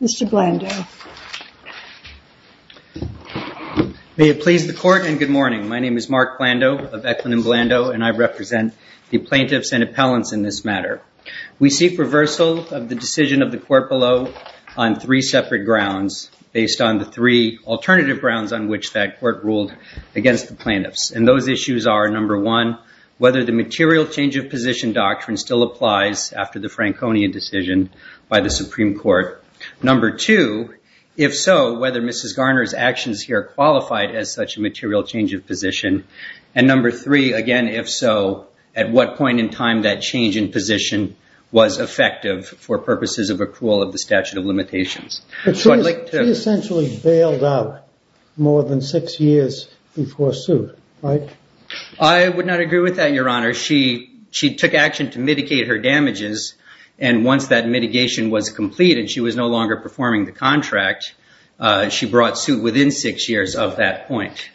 Mr. Blando. May it please the court and good morning. My name is Mark Blando of Eklund Appellants in this matter. We seek reversal of the decision of the court below on three separate grounds based on the three alternative grounds on which that court ruled against the plaintiffs. And those issues are, number one, whether the material change of position doctrine still applies after the Franconian decision by the Supreme Court. Number two, if so, whether Mrs. Garner's actions here qualified as such a material change of position. And number three, again, if so, at what point in time that change in position was effective for purposes of accrual of the statute of limitations. But she essentially bailed out more than six years before suit, right? I would not agree with that, Your Honor. She took action to mitigate her damages. And once that mitigation was completed, she was no longer performing the contract. She brought suit within six years of that point.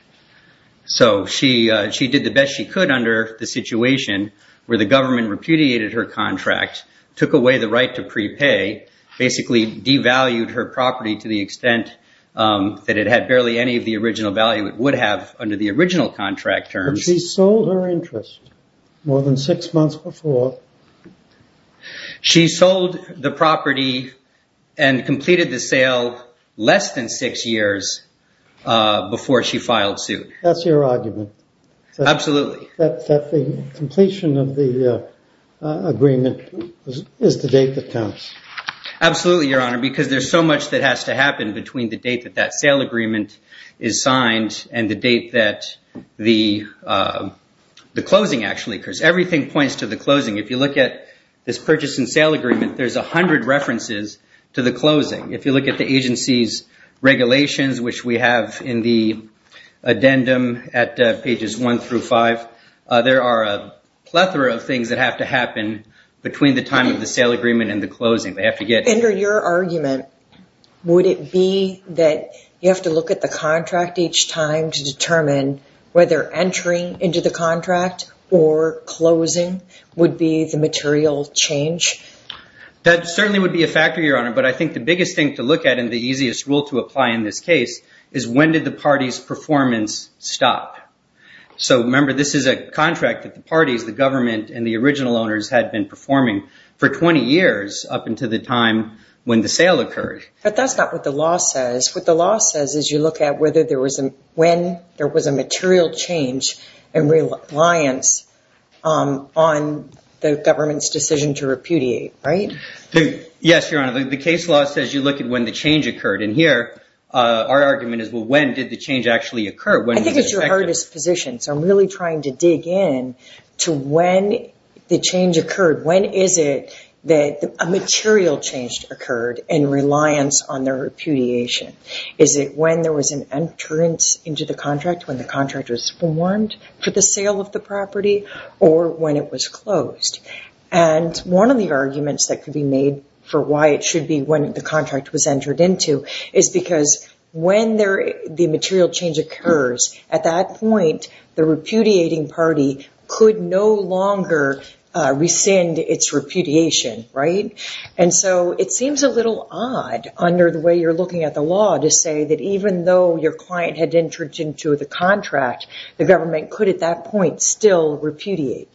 So she did the best she could under the situation where the government repudiated her contract, took away the right to prepay, basically devalued her property to the extent that it had barely any of the original value it would have under the original contract terms. But she sold her interest more than six months before. She sold the property and completed the sale less than six years before she filed suit. That's your argument? Absolutely. That the completion of the agreement is the date that counts? Absolutely, Your Honor, because there's so much that has to happen between the date that that sale agreement is signed and the date that the closing actually occurs. Everything points to the closing. If you look at this agency's regulations, which we have in the addendum at pages one through five, there are a plethora of things that have to happen between the time of the sale agreement and the closing. They have to get... Under your argument, would it be that you have to look at the contract each time to determine whether entering into the contract or closing would be the material change? That certainly would be a factor, Your Honor. But I think the biggest thing to look at and the easiest rule to apply in this case is when did the party's performance stop? Remember, this is a contract that the parties, the government, and the original owners had been performing for 20 years up until the time when the sale occurred. But that's not what the law says. What the law says is you look at when there was a material change and reliance on the government's decision to repudiate, right? Yes, Your Honor. The case law says you look at when the change occurred. In here, our argument is, well, when did the change actually occur? I think it's your hardest position. I'm really trying to dig in to when the change occurred. When is it that a material change occurred and reliance on the repudiation? Is it when there was an entrance into the contract, when the contract was formed for the sale of the property, or when it was closed? One of the arguments that could be made for why it should be when the contract was entered into is because when the material change occurs, at that point, the repudiating party could no longer rescind its repudiation, right? It seems a little odd under the way you're mentioning to the contract, the government could, at that point, still repudiate,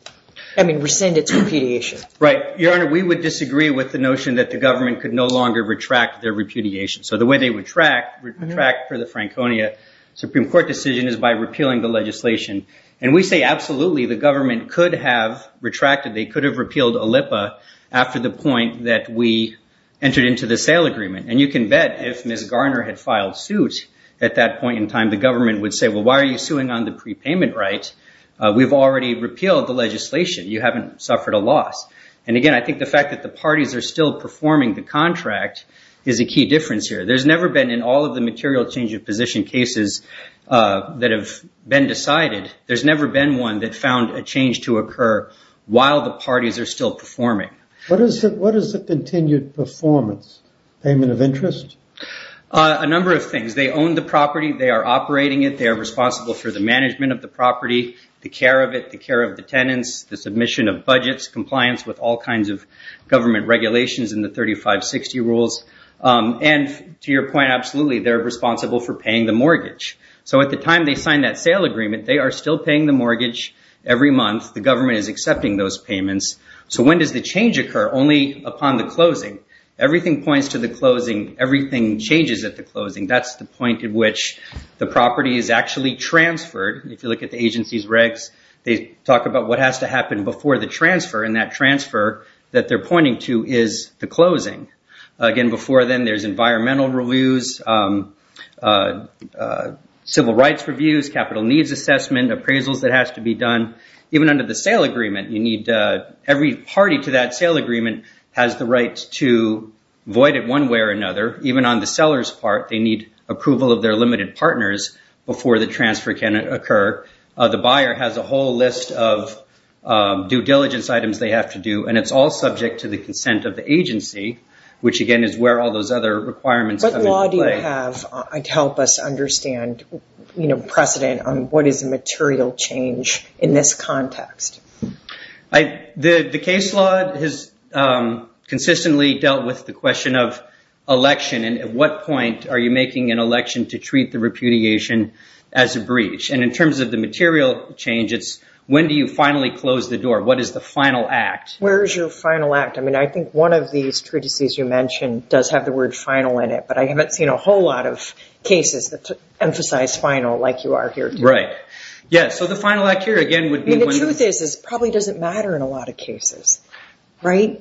I mean, rescind its repudiation. Right. Your Honor, we would disagree with the notion that the government could no longer retract their repudiation. The way they retract for the Franconia Supreme Court decision is by repealing the legislation. We say, absolutely, the government could have retracted. They could have repealed OLIPA after the point that we entered into the sale agreement. You can bet if Ms. Garner had filed suit at that point in time, the government would say, well, why are you suing on the prepayment right? We've already repealed the legislation. You haven't suffered a loss. Again, I think the fact that the parties are still performing the contract is a key difference here. There's never been, in all of the material change of position cases that have been decided, there's never been one that found a change to occur while the parties are still performing. What is the continued performance? Payment of interest? A number of things. They own the property. They are operating it. They are responsible for the management of the property, the care of it, the care of the tenants, the submission of budgets, compliance with all kinds of government regulations in the 3560 rules. To your point, absolutely, they're responsible for paying the mortgage. At the time they signed that sale agreement, they are still paying the mortgage every month. The government is accepting those payments. When does the change occur? Only upon the closing. Everything points to the closing. Everything changes at the closing. That's the point at which the property is actually transferred. If you look at the agency's regs, they talk about what has to happen before the transfer. That transfer that they're pointing to is the closing. Again, before then there's environmental reviews, civil rights reviews, capital needs assessment, appraisals that has to be done. Even under the sale agreement, every party to that sale agreement has the right to void it one way or another. Even on the seller's part, they need approval of their limited partners before the transfer can occur. The buyer has a whole list of due diligence items they have to do. It's all subject to the consent of the agency, which again is where all those other requirements come into play. What law do you have to help us understand precedent on what is a material change in this context? The case law has consistently dealt with the question of election. At what point are you making an election to treat the repudiation as a breach? In terms of the material change, it's when do you finally close the door? What is the final act? Where is your final act? I think one of these treatises you mentioned does have the word final in it, but I haven't seen a whole lot of cases that emphasize final like you are here today. The truth is it probably doesn't matter in a lot of cases. Whether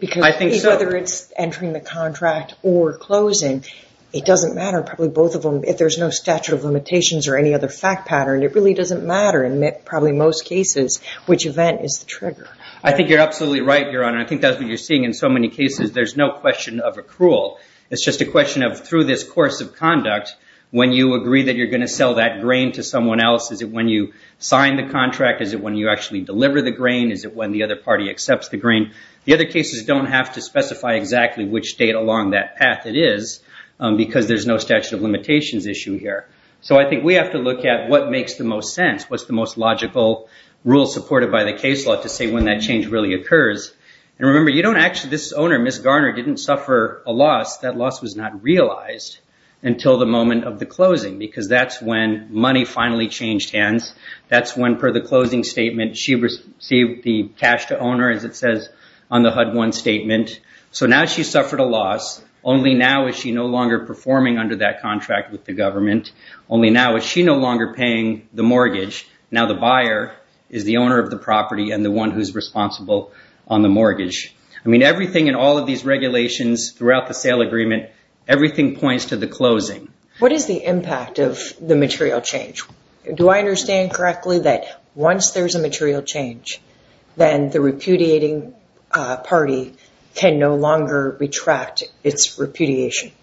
it's entering the contract or closing, it doesn't matter. If there's no statute of limitations or any other fact pattern, it really doesn't matter in probably most cases which event is the trigger. I think you're absolutely right, Your Honor. I think that's what you're seeing in so many cases. There's no question of accrual. It's just a question of through this course of how do you sign the contract? Is it when you actually deliver the grain? Is it when the other party accepts the grain? The other cases don't have to specify exactly which date along that path it is because there's no statute of limitations issue here. I think we have to look at what makes the most sense, what's the most logical rule supported by the case law to say when that change really occurs. Remember, this owner, Ms. Garner, didn't suffer a loss. That loss was not realized until the owner finally changed hands. That's when, per the closing statement, she received the cash to owner as it says on the HUD-1 statement. Now she suffered a loss. Only now is she no longer performing under that contract with the government. Only now is she no longer paying the mortgage. Now the buyer is the owner of the property and the one who's responsible on the mortgage. Everything in all of these regulations throughout the sale agreement, everything points to the closing. What is the impact of the material change? Do I understand correctly that once there's a material change, then the repudiating party can no longer retract its repudiation?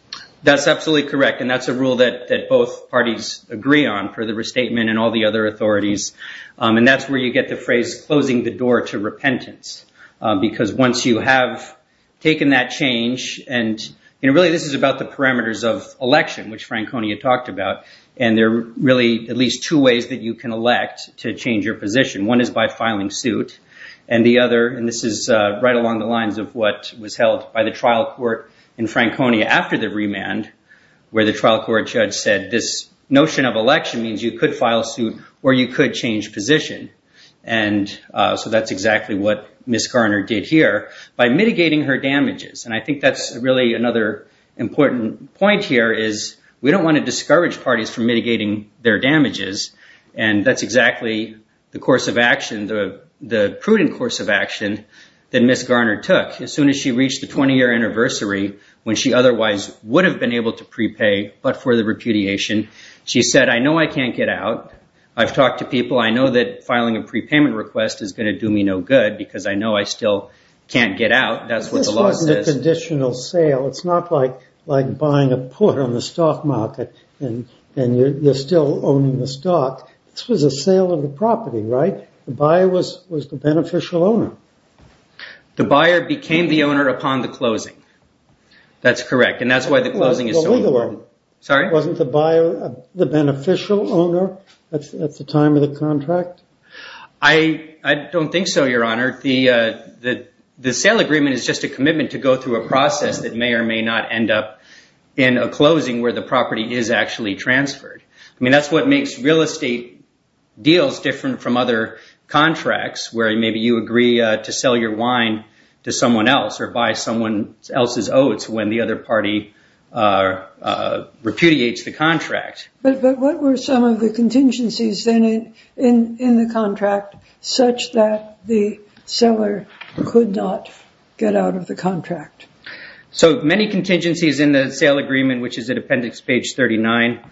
That's absolutely correct. That's a rule that both parties agree on for the restatement and all the other authorities. That's where you get the phrase, closing the door to repentance. Once you have taken that change, and really this is about the parameters of election, which Franconia talked about. There are really at least two ways that you can elect to change your position. One is by filing suit. The other, and this is right along the lines of what was held by the trial court in Franconia after the remand, where the trial court judge said this notion of election means you could change position. That's exactly what Ms. Garner did here by mitigating her damages. I think that's really another important point here is we don't want to discourage parties from mitigating their damages. That's exactly the course of action, the prudent course of action that Ms. Garner took as soon as she reached the 20-year anniversary when she otherwise would have been able to prepay but for the repudiation. She said, I know I can't get out. I've talked to people. I know that filing a prepayment request is going to do me no good because I know I still can't get out. That's what the law says. This wasn't a conditional sale. It's not like buying a put on the stock market and you're still owning the stock. This was a sale of the property, right? The buyer was the beneficial owner. The buyer became the owner upon the closing. That's correct. That's why the closing is so important. Wasn't the buyer the beneficial owner at the time of the contract? I don't think so, Your Honor. The sale agreement is just a commitment to go through a process that may or may not end up in a closing where the property is actually transferred. That's what makes real estate deals different from other contracts where maybe you agree to sell your wine to someone else or buy someone else's oats when the other party repudiates the contract. What were some of the contingencies in the contract such that the seller could not get out of the contract? Many contingencies in the sale agreement, which is in appendix page 39,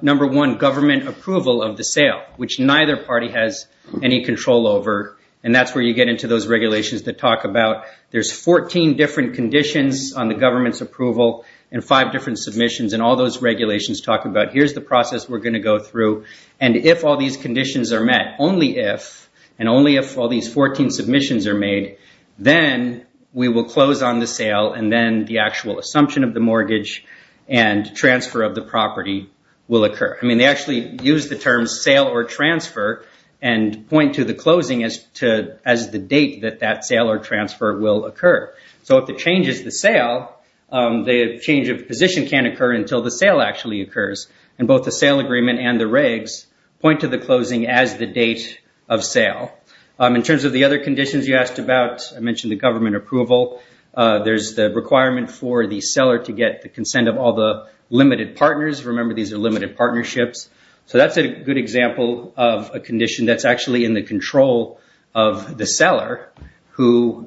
number one, government approval of the sale, which neither party has any control over. That's where you get into those regulations that talk about there's 14 different conditions on the government's approval and five different submissions and all those regulations talk about here's the process we're going to go through and if all these conditions are met, only if, and only if all these 14 submissions are made, then we will close on the sale and then the actual assumption of the mortgage and transfer of the property will occur. They actually use the term sale or transfer and point to the closing as the date that that sale or transfer will occur. If the change is the sale, the change of position can occur until the sale actually occurs and both the sale agreement and the regs point to the closing as the date of sale. In terms of the other conditions you asked about, I mentioned the government approval. There's the requirement for the seller to get the consent of all the limited partners. Remember, these are limited partnerships. That's a good example of a condition that's actually in the control of the seller who,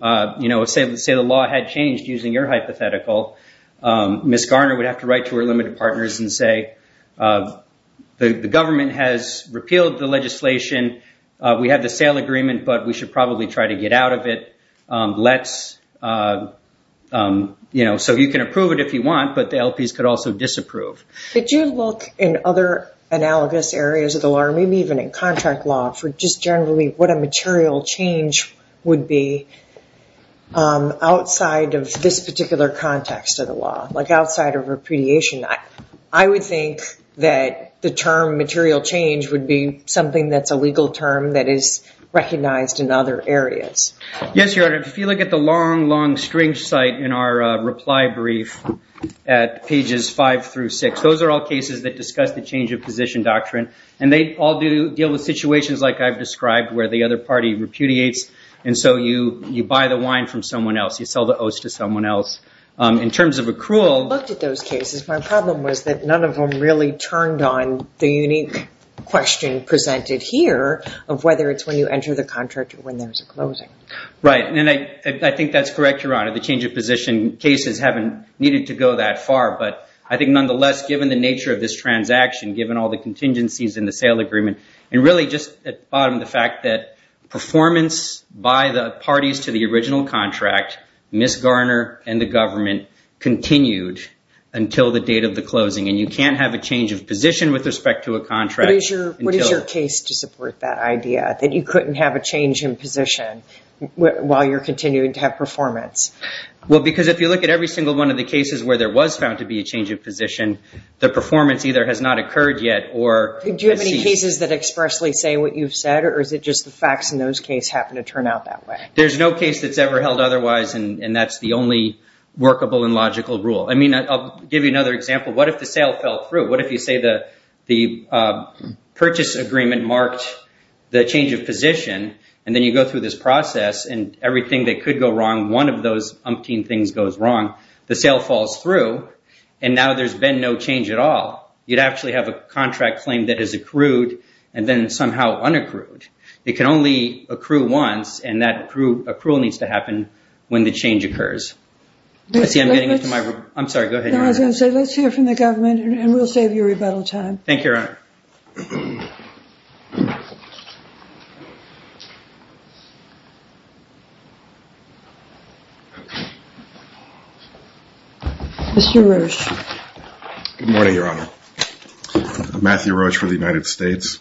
say the law had changed using your hypothetical, Ms. Garner would have to write to her limited partners and say, the government has repealed the legislation. We have the sale agreement, but we should probably try to get out of it. You can approve it if you want, but the LPs could also disapprove. Did you look in other analogous areas of the law, maybe even in contract law for just generally what a material change would be outside of this particular context of the law, like outside of repudiation? I would think that the term material change would be something that's a legal term that is recognized in other areas. Yes, Your Honor. If you look at the long, long string site in our reply brief at pages five through six, those are all cases that discuss the change of position doctrine, and they all deal with situations like I've described where the other party repudiates, and so you buy the wine from someone else. You sell the oats to someone else. In terms of accrual- I looked at those cases. My problem was that none of them really turned on the unique question presented here of whether it's when you enter the contract or when there's a closing. Right. I think that's correct, Your Honor. The change of position cases haven't needed to go that far, but I think nonetheless, given the nature of this transaction, given all the contingencies in the sale agreement, and really just at the bottom of the fact that performance by the parties to the original contract, Ms. Garner and the government continued until the date of the closing, and you can't have a change of position with respect to a contract until- What is your case to support that idea, that you couldn't have a change in position while you're continuing to have performance? Well, because if you look at every single one of the cases where there was found to be a change of position, the performance either has not occurred yet or- Do you have any cases that expressly say what you've said, or is it just the facts in those cases happen to turn out that way? There's no case that's ever held otherwise, and that's the only workable and logical rule. I'll give you another example. What if the sale fell through? What if you say the purchase agreement marked the change of position, and then you go through this process, and everything that could go wrong, one of those umpteen things goes wrong. The sale falls through, and now there's been no change at all. You'd actually have a contract claim that has accrued, and then somehow unaccrued. It can only accrue once, and that accrual needs to happen when the change occurs. Let's hear from the government, and we'll save you rebuttal time. Thank you, Your Honor. Mr. Roach. Good morning, Your Honor. I'm Matthew Roach for the United States.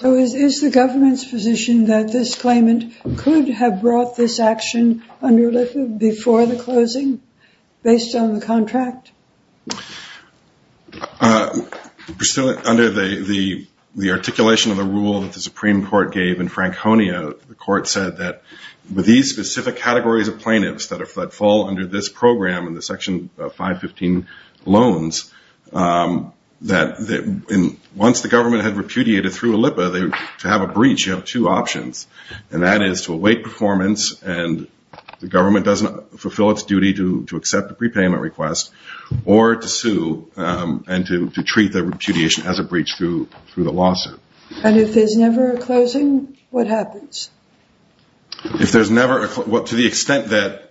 So is the government's position that this claimant could have brought this action under under the articulation of the rule that the Supreme Court gave in Franconia? The court said that with these specific categories of plaintiffs that fall under this program in the Section 515 loans, that once the government had repudiated through a LIPA, to have a breach you have two options, and that is to await performance, and the government doesn't fulfill its duty to accept a prepayment request, or to sue and to treat the repudiation as a breach through the lawsuit. And if there's never a closing, what happens? If there's never a closing, to the extent that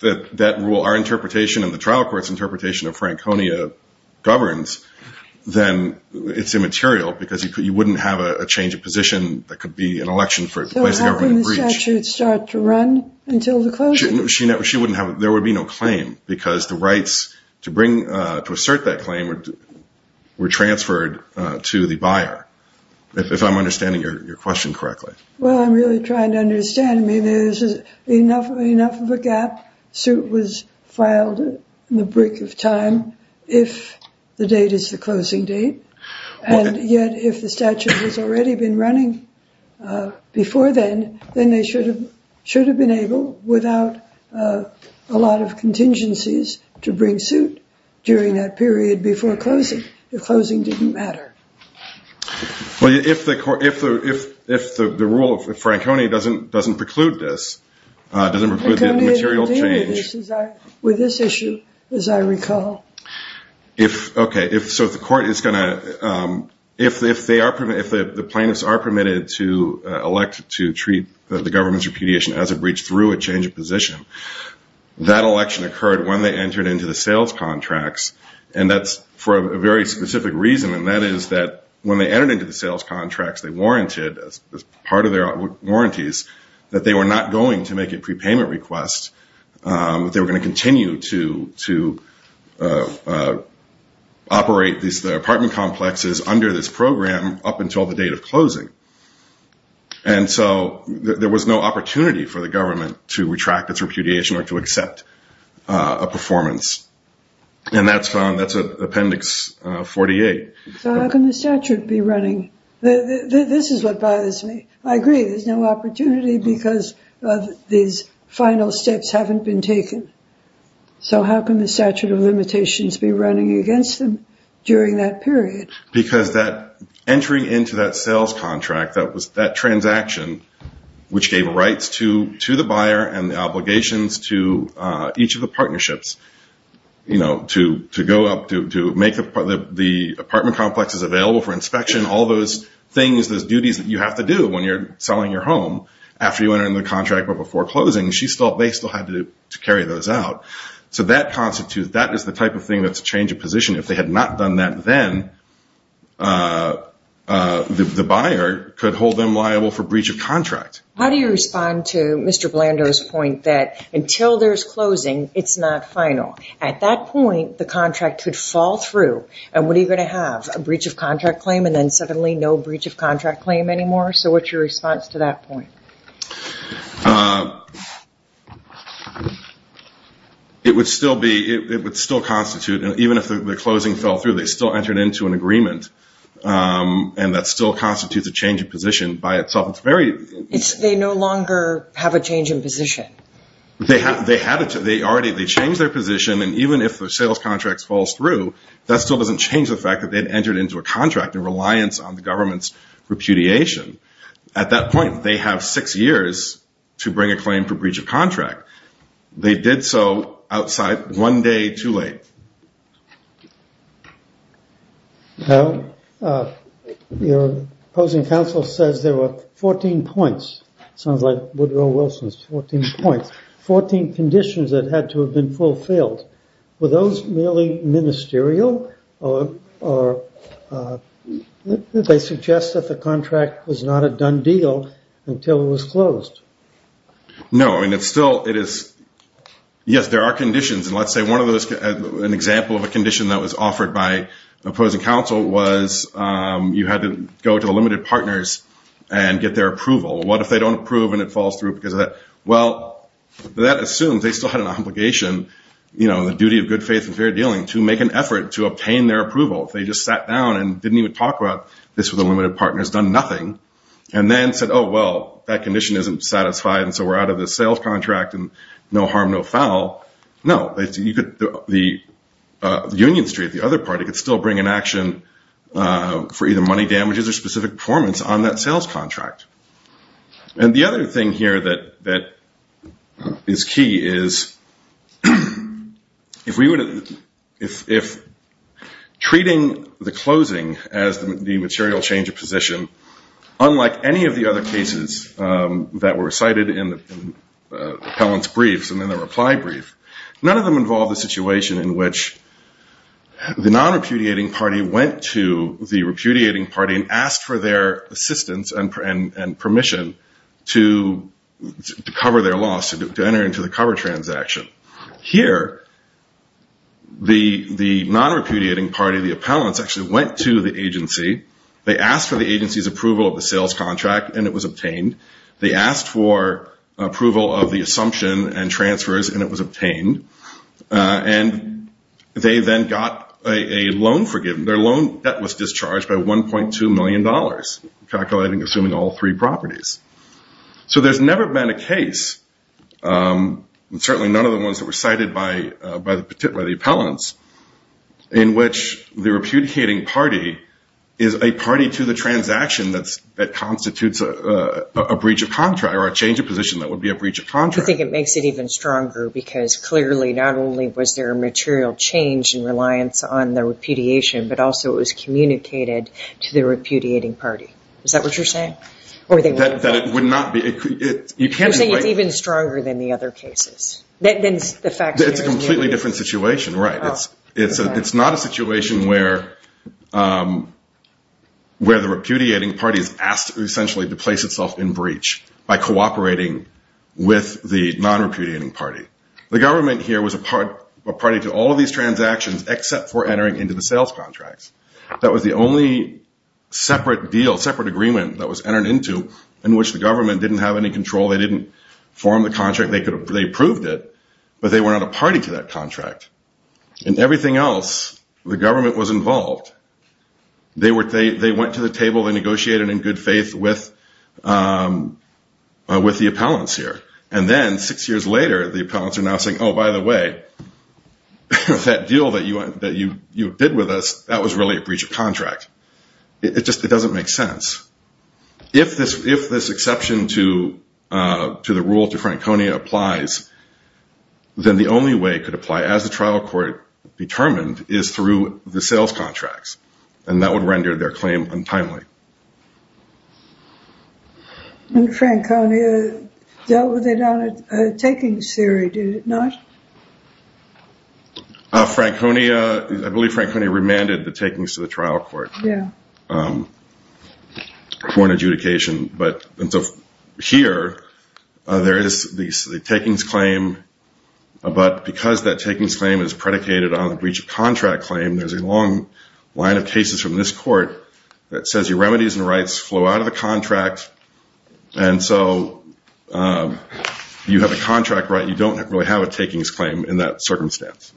that rule, our interpretation and the trial court's interpretation of Franconia governs, then it's immaterial because you wouldn't have a change of position that could be an election for placing a government breach. So how can the statute start to run until the closing? There would be no claim, because the rights to bring, to assert that claim were transferred to the buyer, if I'm understanding your question correctly. Well, I'm really trying to understand. There's enough of a gap, suit was filed in the brick of time, if the date is the closing date, and yet if the statute has already been running before then, then they should have been able, without a lot of contingencies, to bring suit during that period before closing, if closing didn't matter. Well, if the rule of Franconia doesn't preclude this, doesn't preclude the material change... Franconia didn't deal with this issue, as I recall. If the plaintiffs are permitted to elect to treat the government's repudiation as a breach through a change of position, that election occurred when they entered into the sales contracts, and that's for a very specific reason, and that is that when they entered into the sales contracts, they warranted, as part of their warranties, that they were not going to make a prepayment request, they were going to continue to operate the apartment complexes under this program up until the date of closing, and so there was no opportunity for the government to retract its repudiation or to accept a performance, and that's Appendix 48. So how can the statute be running? This is what bothers me. I agree, there's no opportunity because these final steps haven't been taken, so how can the statute of limitations be running against them during that period? Because entering into that sales contract, that transaction, which gave rights to the buyer and the obligations to each of the partnerships, to go up to make the apartment complexes available for inspection, all those things, those duties that you have to do when you're selling your home, after you enter into the contract but before closing, they still had to carry those out. So that constitutes, that is the type of thing that's a change of position. If they had not done that then, the buyer could hold them liable for breach of contract. How do you respond to Mr. Blando's point that until there's closing, it's not final? At that point, the contract could fall through, and what are you going to have, a breach of contract claim, and then suddenly no breach of contract claim anymore? So what's your response to that point? It would still constitute, even if the closing fell through, they still entered into an agreement, and that still constitutes a change of position by itself. They no longer have a change in position. They changed their position, and even if the sales contract falls through, that still doesn't change the fact that they'd entered into a contract in reliance on the government's repudiation. At that point, they have six years to bring a claim for breach of contract. They did so outside one day too late. Your opposing counsel says there were 14 points, sounds like Woodrow Wilson's 14 points, 14 conditions that had to have been fulfilled. Were those merely ministerial, or did they suggest that the contract was not a done deal until it was closed? No. Yes, there are conditions, and let's say an example of a condition that was offered by the opposing counsel was you had to go to the limited partners and get their approval. What if they don't approve and it falls through because of that? Well, that assumes they still had an obligation, the duty of good faith and fair dealing, to make an effort to obtain their approval. If they just sat down and didn't even talk about this with the limited partners, done nothing, and then said, oh, well, that condition isn't satisfied and so we're out of the sales contract and no harm, no foul. No. The union street, the other party could still bring an action for either money damages or specific performance on that sales contract. Treating the closing as the material change of position, unlike any of the other cases that were cited in the appellant's briefs and in the reply brief, none of them involved a situation in which the non-repudiating party went to the repudiating party and asked for their assistance and permission to cover their loss, to enter into the cover transaction. Here, the non-repudiating party, the appellants, actually went to the agency. They asked for the agency's approval of the sales contract and it was obtained. They asked for approval of the assumption and transfers and it was obtained. And they then got a loan forgiven. Their loan debt was discharged by $1.2 million, calculating, assuming all three properties. So there's never been a case, certainly none of the ones that were cited by the appellants, in which the repudiating party is a party to the transaction that constitutes a breach of contract or a change of position that would be a breach of contract. I think it makes it even stronger because clearly not only was there a material change in reliance on the repudiation, but also it was communicated to the repudiating party. Is that what you're saying? That it would not be. You're saying it's even stronger than the other cases? It's a completely different situation, right. It's not a situation where the repudiating party is asked essentially to place itself in breach by cooperating with the non-repudiating party. The government here was a party to all of these transactions except for entering into the sales contracts. That was the only separate deal, separate agreement that was entered into in which the government didn't have any control. They didn't form the contract. They approved it, but they were not a party to that contract. In everything else, the government was involved. They went to the table. They negotiated in good faith with the appellants here. And then six years later, the appellants are now saying, oh, by the way, that deal that you bid with us, that was really a breach of contract. It just doesn't make sense. If this exception to the rule to Franconia applies, then the only way it could apply as a trial court determined is through the sales contracts. And that would render their claim untimely. And Franconia dealt with it on a takings theory, did it not? Franconia, I believe Franconia remanded the takings to the trial court for an adjudication. And so here, there is the takings claim, but because that takings claim is predicated on remedies and rights flow out of the contract, and so you have a contract right, you don't really have a takings claim in that circumstance.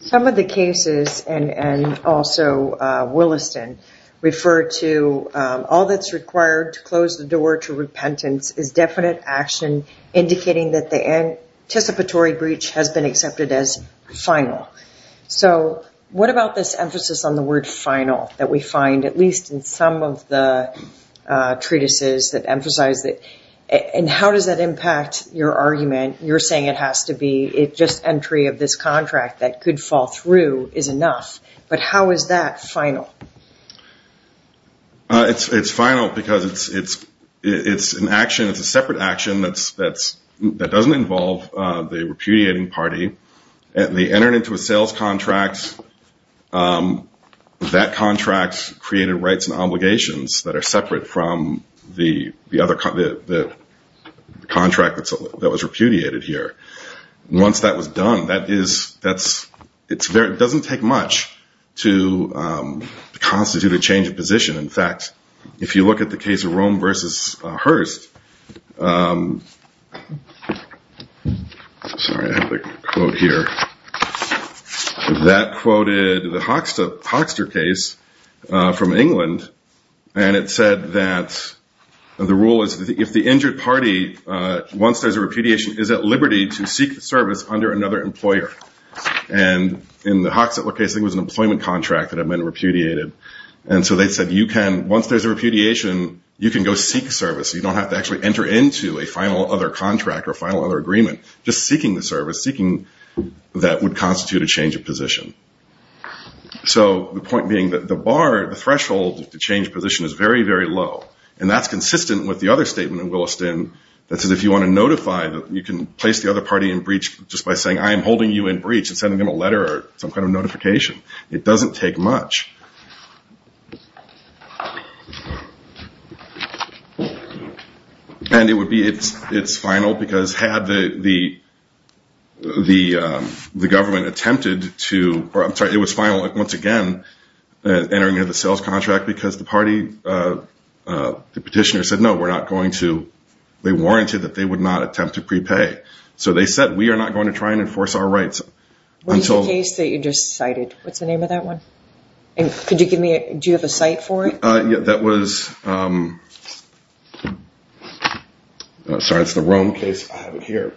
Some of the cases, and also Williston, refer to all that's required to close the door to repentance is definite action indicating that the anticipatory breach has been accepted as final. So what about this emphasis on the word final that we find at least in some of the treatises that emphasize that, and how does that impact your argument? You're saying it has to be just entry of this contract that could fall through is enough, but how is that final? It's final because it's an action, it's a separate action that doesn't involve the repudiating party. They entered into a sales contract, that contract created rights and obligations that are separate from the contract that was repudiated here. Once that was done, it doesn't take much to constitute a change of position. In fact, if you look at the case of Rome v. Hearst, that quoted the Hoxter case from England, and it said that the rule is if the injured party, once there's a repudiation, is at liberty to seek service under another employer. In the Hoxter case, I think it was an employment contract that had been repudiated, and so they said once there's a repudiation, you can go seek service. You don't have to actually enter into a final other contract or final other agreement. Just seeking the service, seeking that would constitute a change of position. So the point being that the threshold to change position is very, very low, and that's consistent with the other statement in Williston that says if you want to notify, you can place the other party in breach just by saying, I am holding you in breach and sending them a letter or some kind of notification. It doesn't take much. And it would be, it's final because had the government attempted to, or I'm sorry, it was final once again entering into the sales contract because the party, the petitioner said no, we're not going to, they warranted that they would not attempt to prepay. So they said, we are not going to try and enforce our rights. What is the case that you just cited? What's the name of that one? And could you give me, do you have a site for it? That was, sorry, it's the Rome case. I have it here.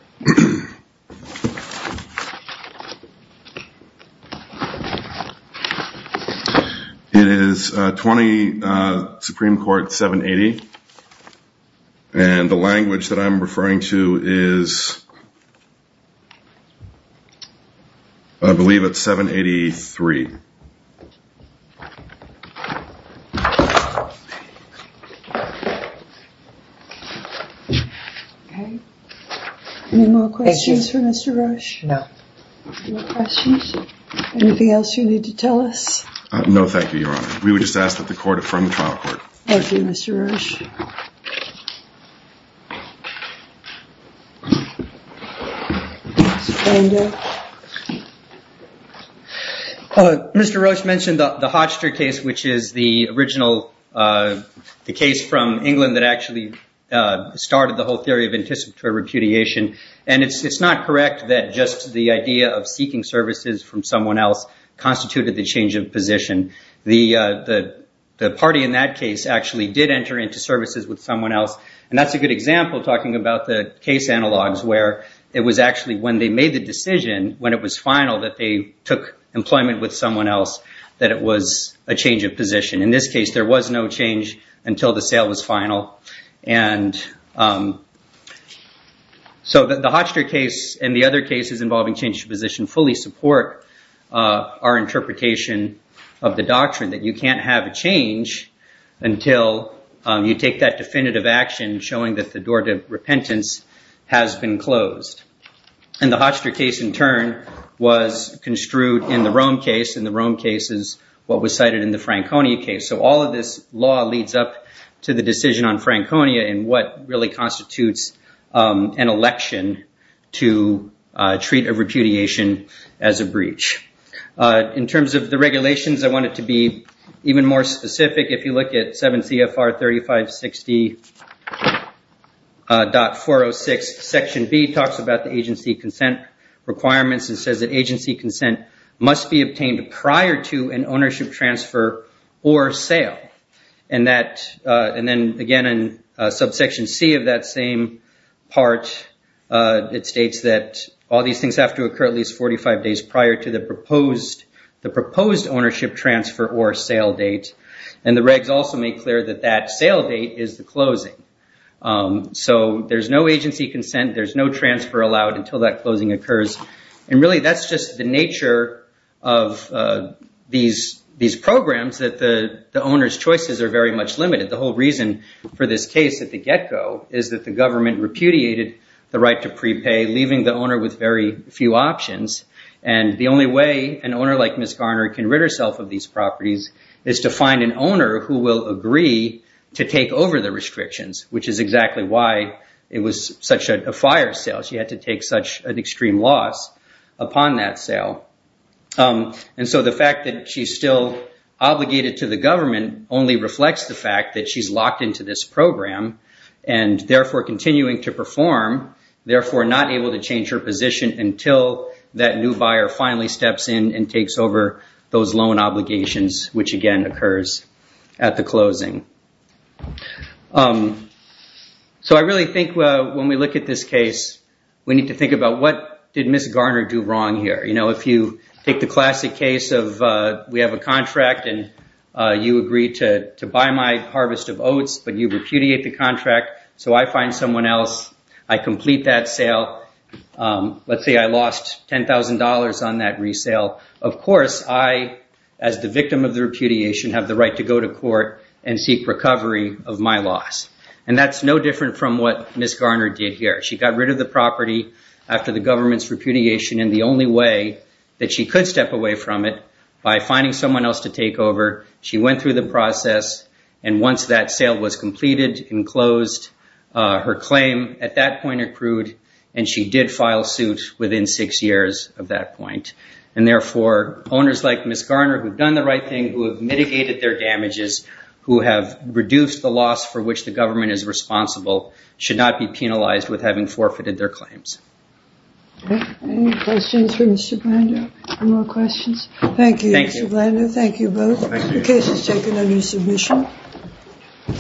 It is 20 Supreme Court 780, and the court, I believe it's 783. Okay. Anymore questions for Mr. Roche? No. Anymore questions? Anything else you need to tell us? No, thank you, Your Honor. We would just ask that the court affirm the trial court. Thank you, Mr. Roche. Mr. Roche mentioned the Hodgster case, which is the original, the case from England that actually started the whole theory of anticipatory repudiation. And it's not correct that just the idea of seeking services from someone else constituted the change of position. The party in that case actually did enter into services with someone else. And that's a good example talking about the case analogs where it was actually when they made the decision, when it was final, that they took employment with someone else, that it was a change of position. In this case, there was no change until the sale was final. And so the Hodgster case and the other cases involving change of position fully support our interpretation of the doctrine that you can't have a change until you take that definitive action showing that the door to repentance has been closed. And the Hodgster case, in turn, was construed in the Rome case and the Rome case is what was cited in the Franconia case. So all of this law leads up to the decision on Franconia and what really constitutes an election to treat a repudiation as a breach. In terms of the regulations, I want it to be even more specific. If you look at 7 CFR 3560.406, section B talks about the agency consent requirements and says that agency consent must be obtained prior to an ownership transfer or sale. And then, again, in subsection C of that same part, it states that all these things have to occur at least 45 days prior to the proposed ownership transfer or sale date. And the regs also make clear that that sale date is the closing. So there's no agency consent, there's no transfer allowed until that closing occurs. And really, that's just the nature of these programs that the owner's choices are very much limited. The whole reason for this case at the get-go is that the government repudiated the right to prepay, leaving the owner with very few options. And the only way an owner like Ms. Garner can rid herself of these properties is to find an owner who will agree to take over the restrictions, which is exactly why it was such a fire sale. She had to take such an extreme loss upon that sale. And so the fact that she's still obligated to the government only reflects the fact that she's locked into this program and therefore continuing to perform, therefore not able to change her position until that new buyer finally steps in and takes over those loan obligations, which again occurs at the closing. So I really think when we look at this case, we need to think about what did Ms. Garner do wrong here? If you take the classic case of we have a contract and you agree to buy my harvest of oats, but you repudiate the contract, so I find someone else, I complete that sale. Let's say I lost $10,000 on that resale. Of course, I, as the victim of the repudiation, have the right to go to court and seek recovery of my loss. And that's no different from what Ms. Garner did here. She got rid of the property after the government's repudiation, and the only way that she could step away from it by finding someone else to take over, she went through the process and once that sale was completed and closed, her claim at that point accrued and she did file suit within six years of that point. And therefore, owners like Ms. Garner who have done the right thing, who have mitigated their damages, who have reduced the loss for which the government is responsible, should not be penalized with having forfeited their Thank you, Mr. Blandin. Thank you both. The case is taken under submission.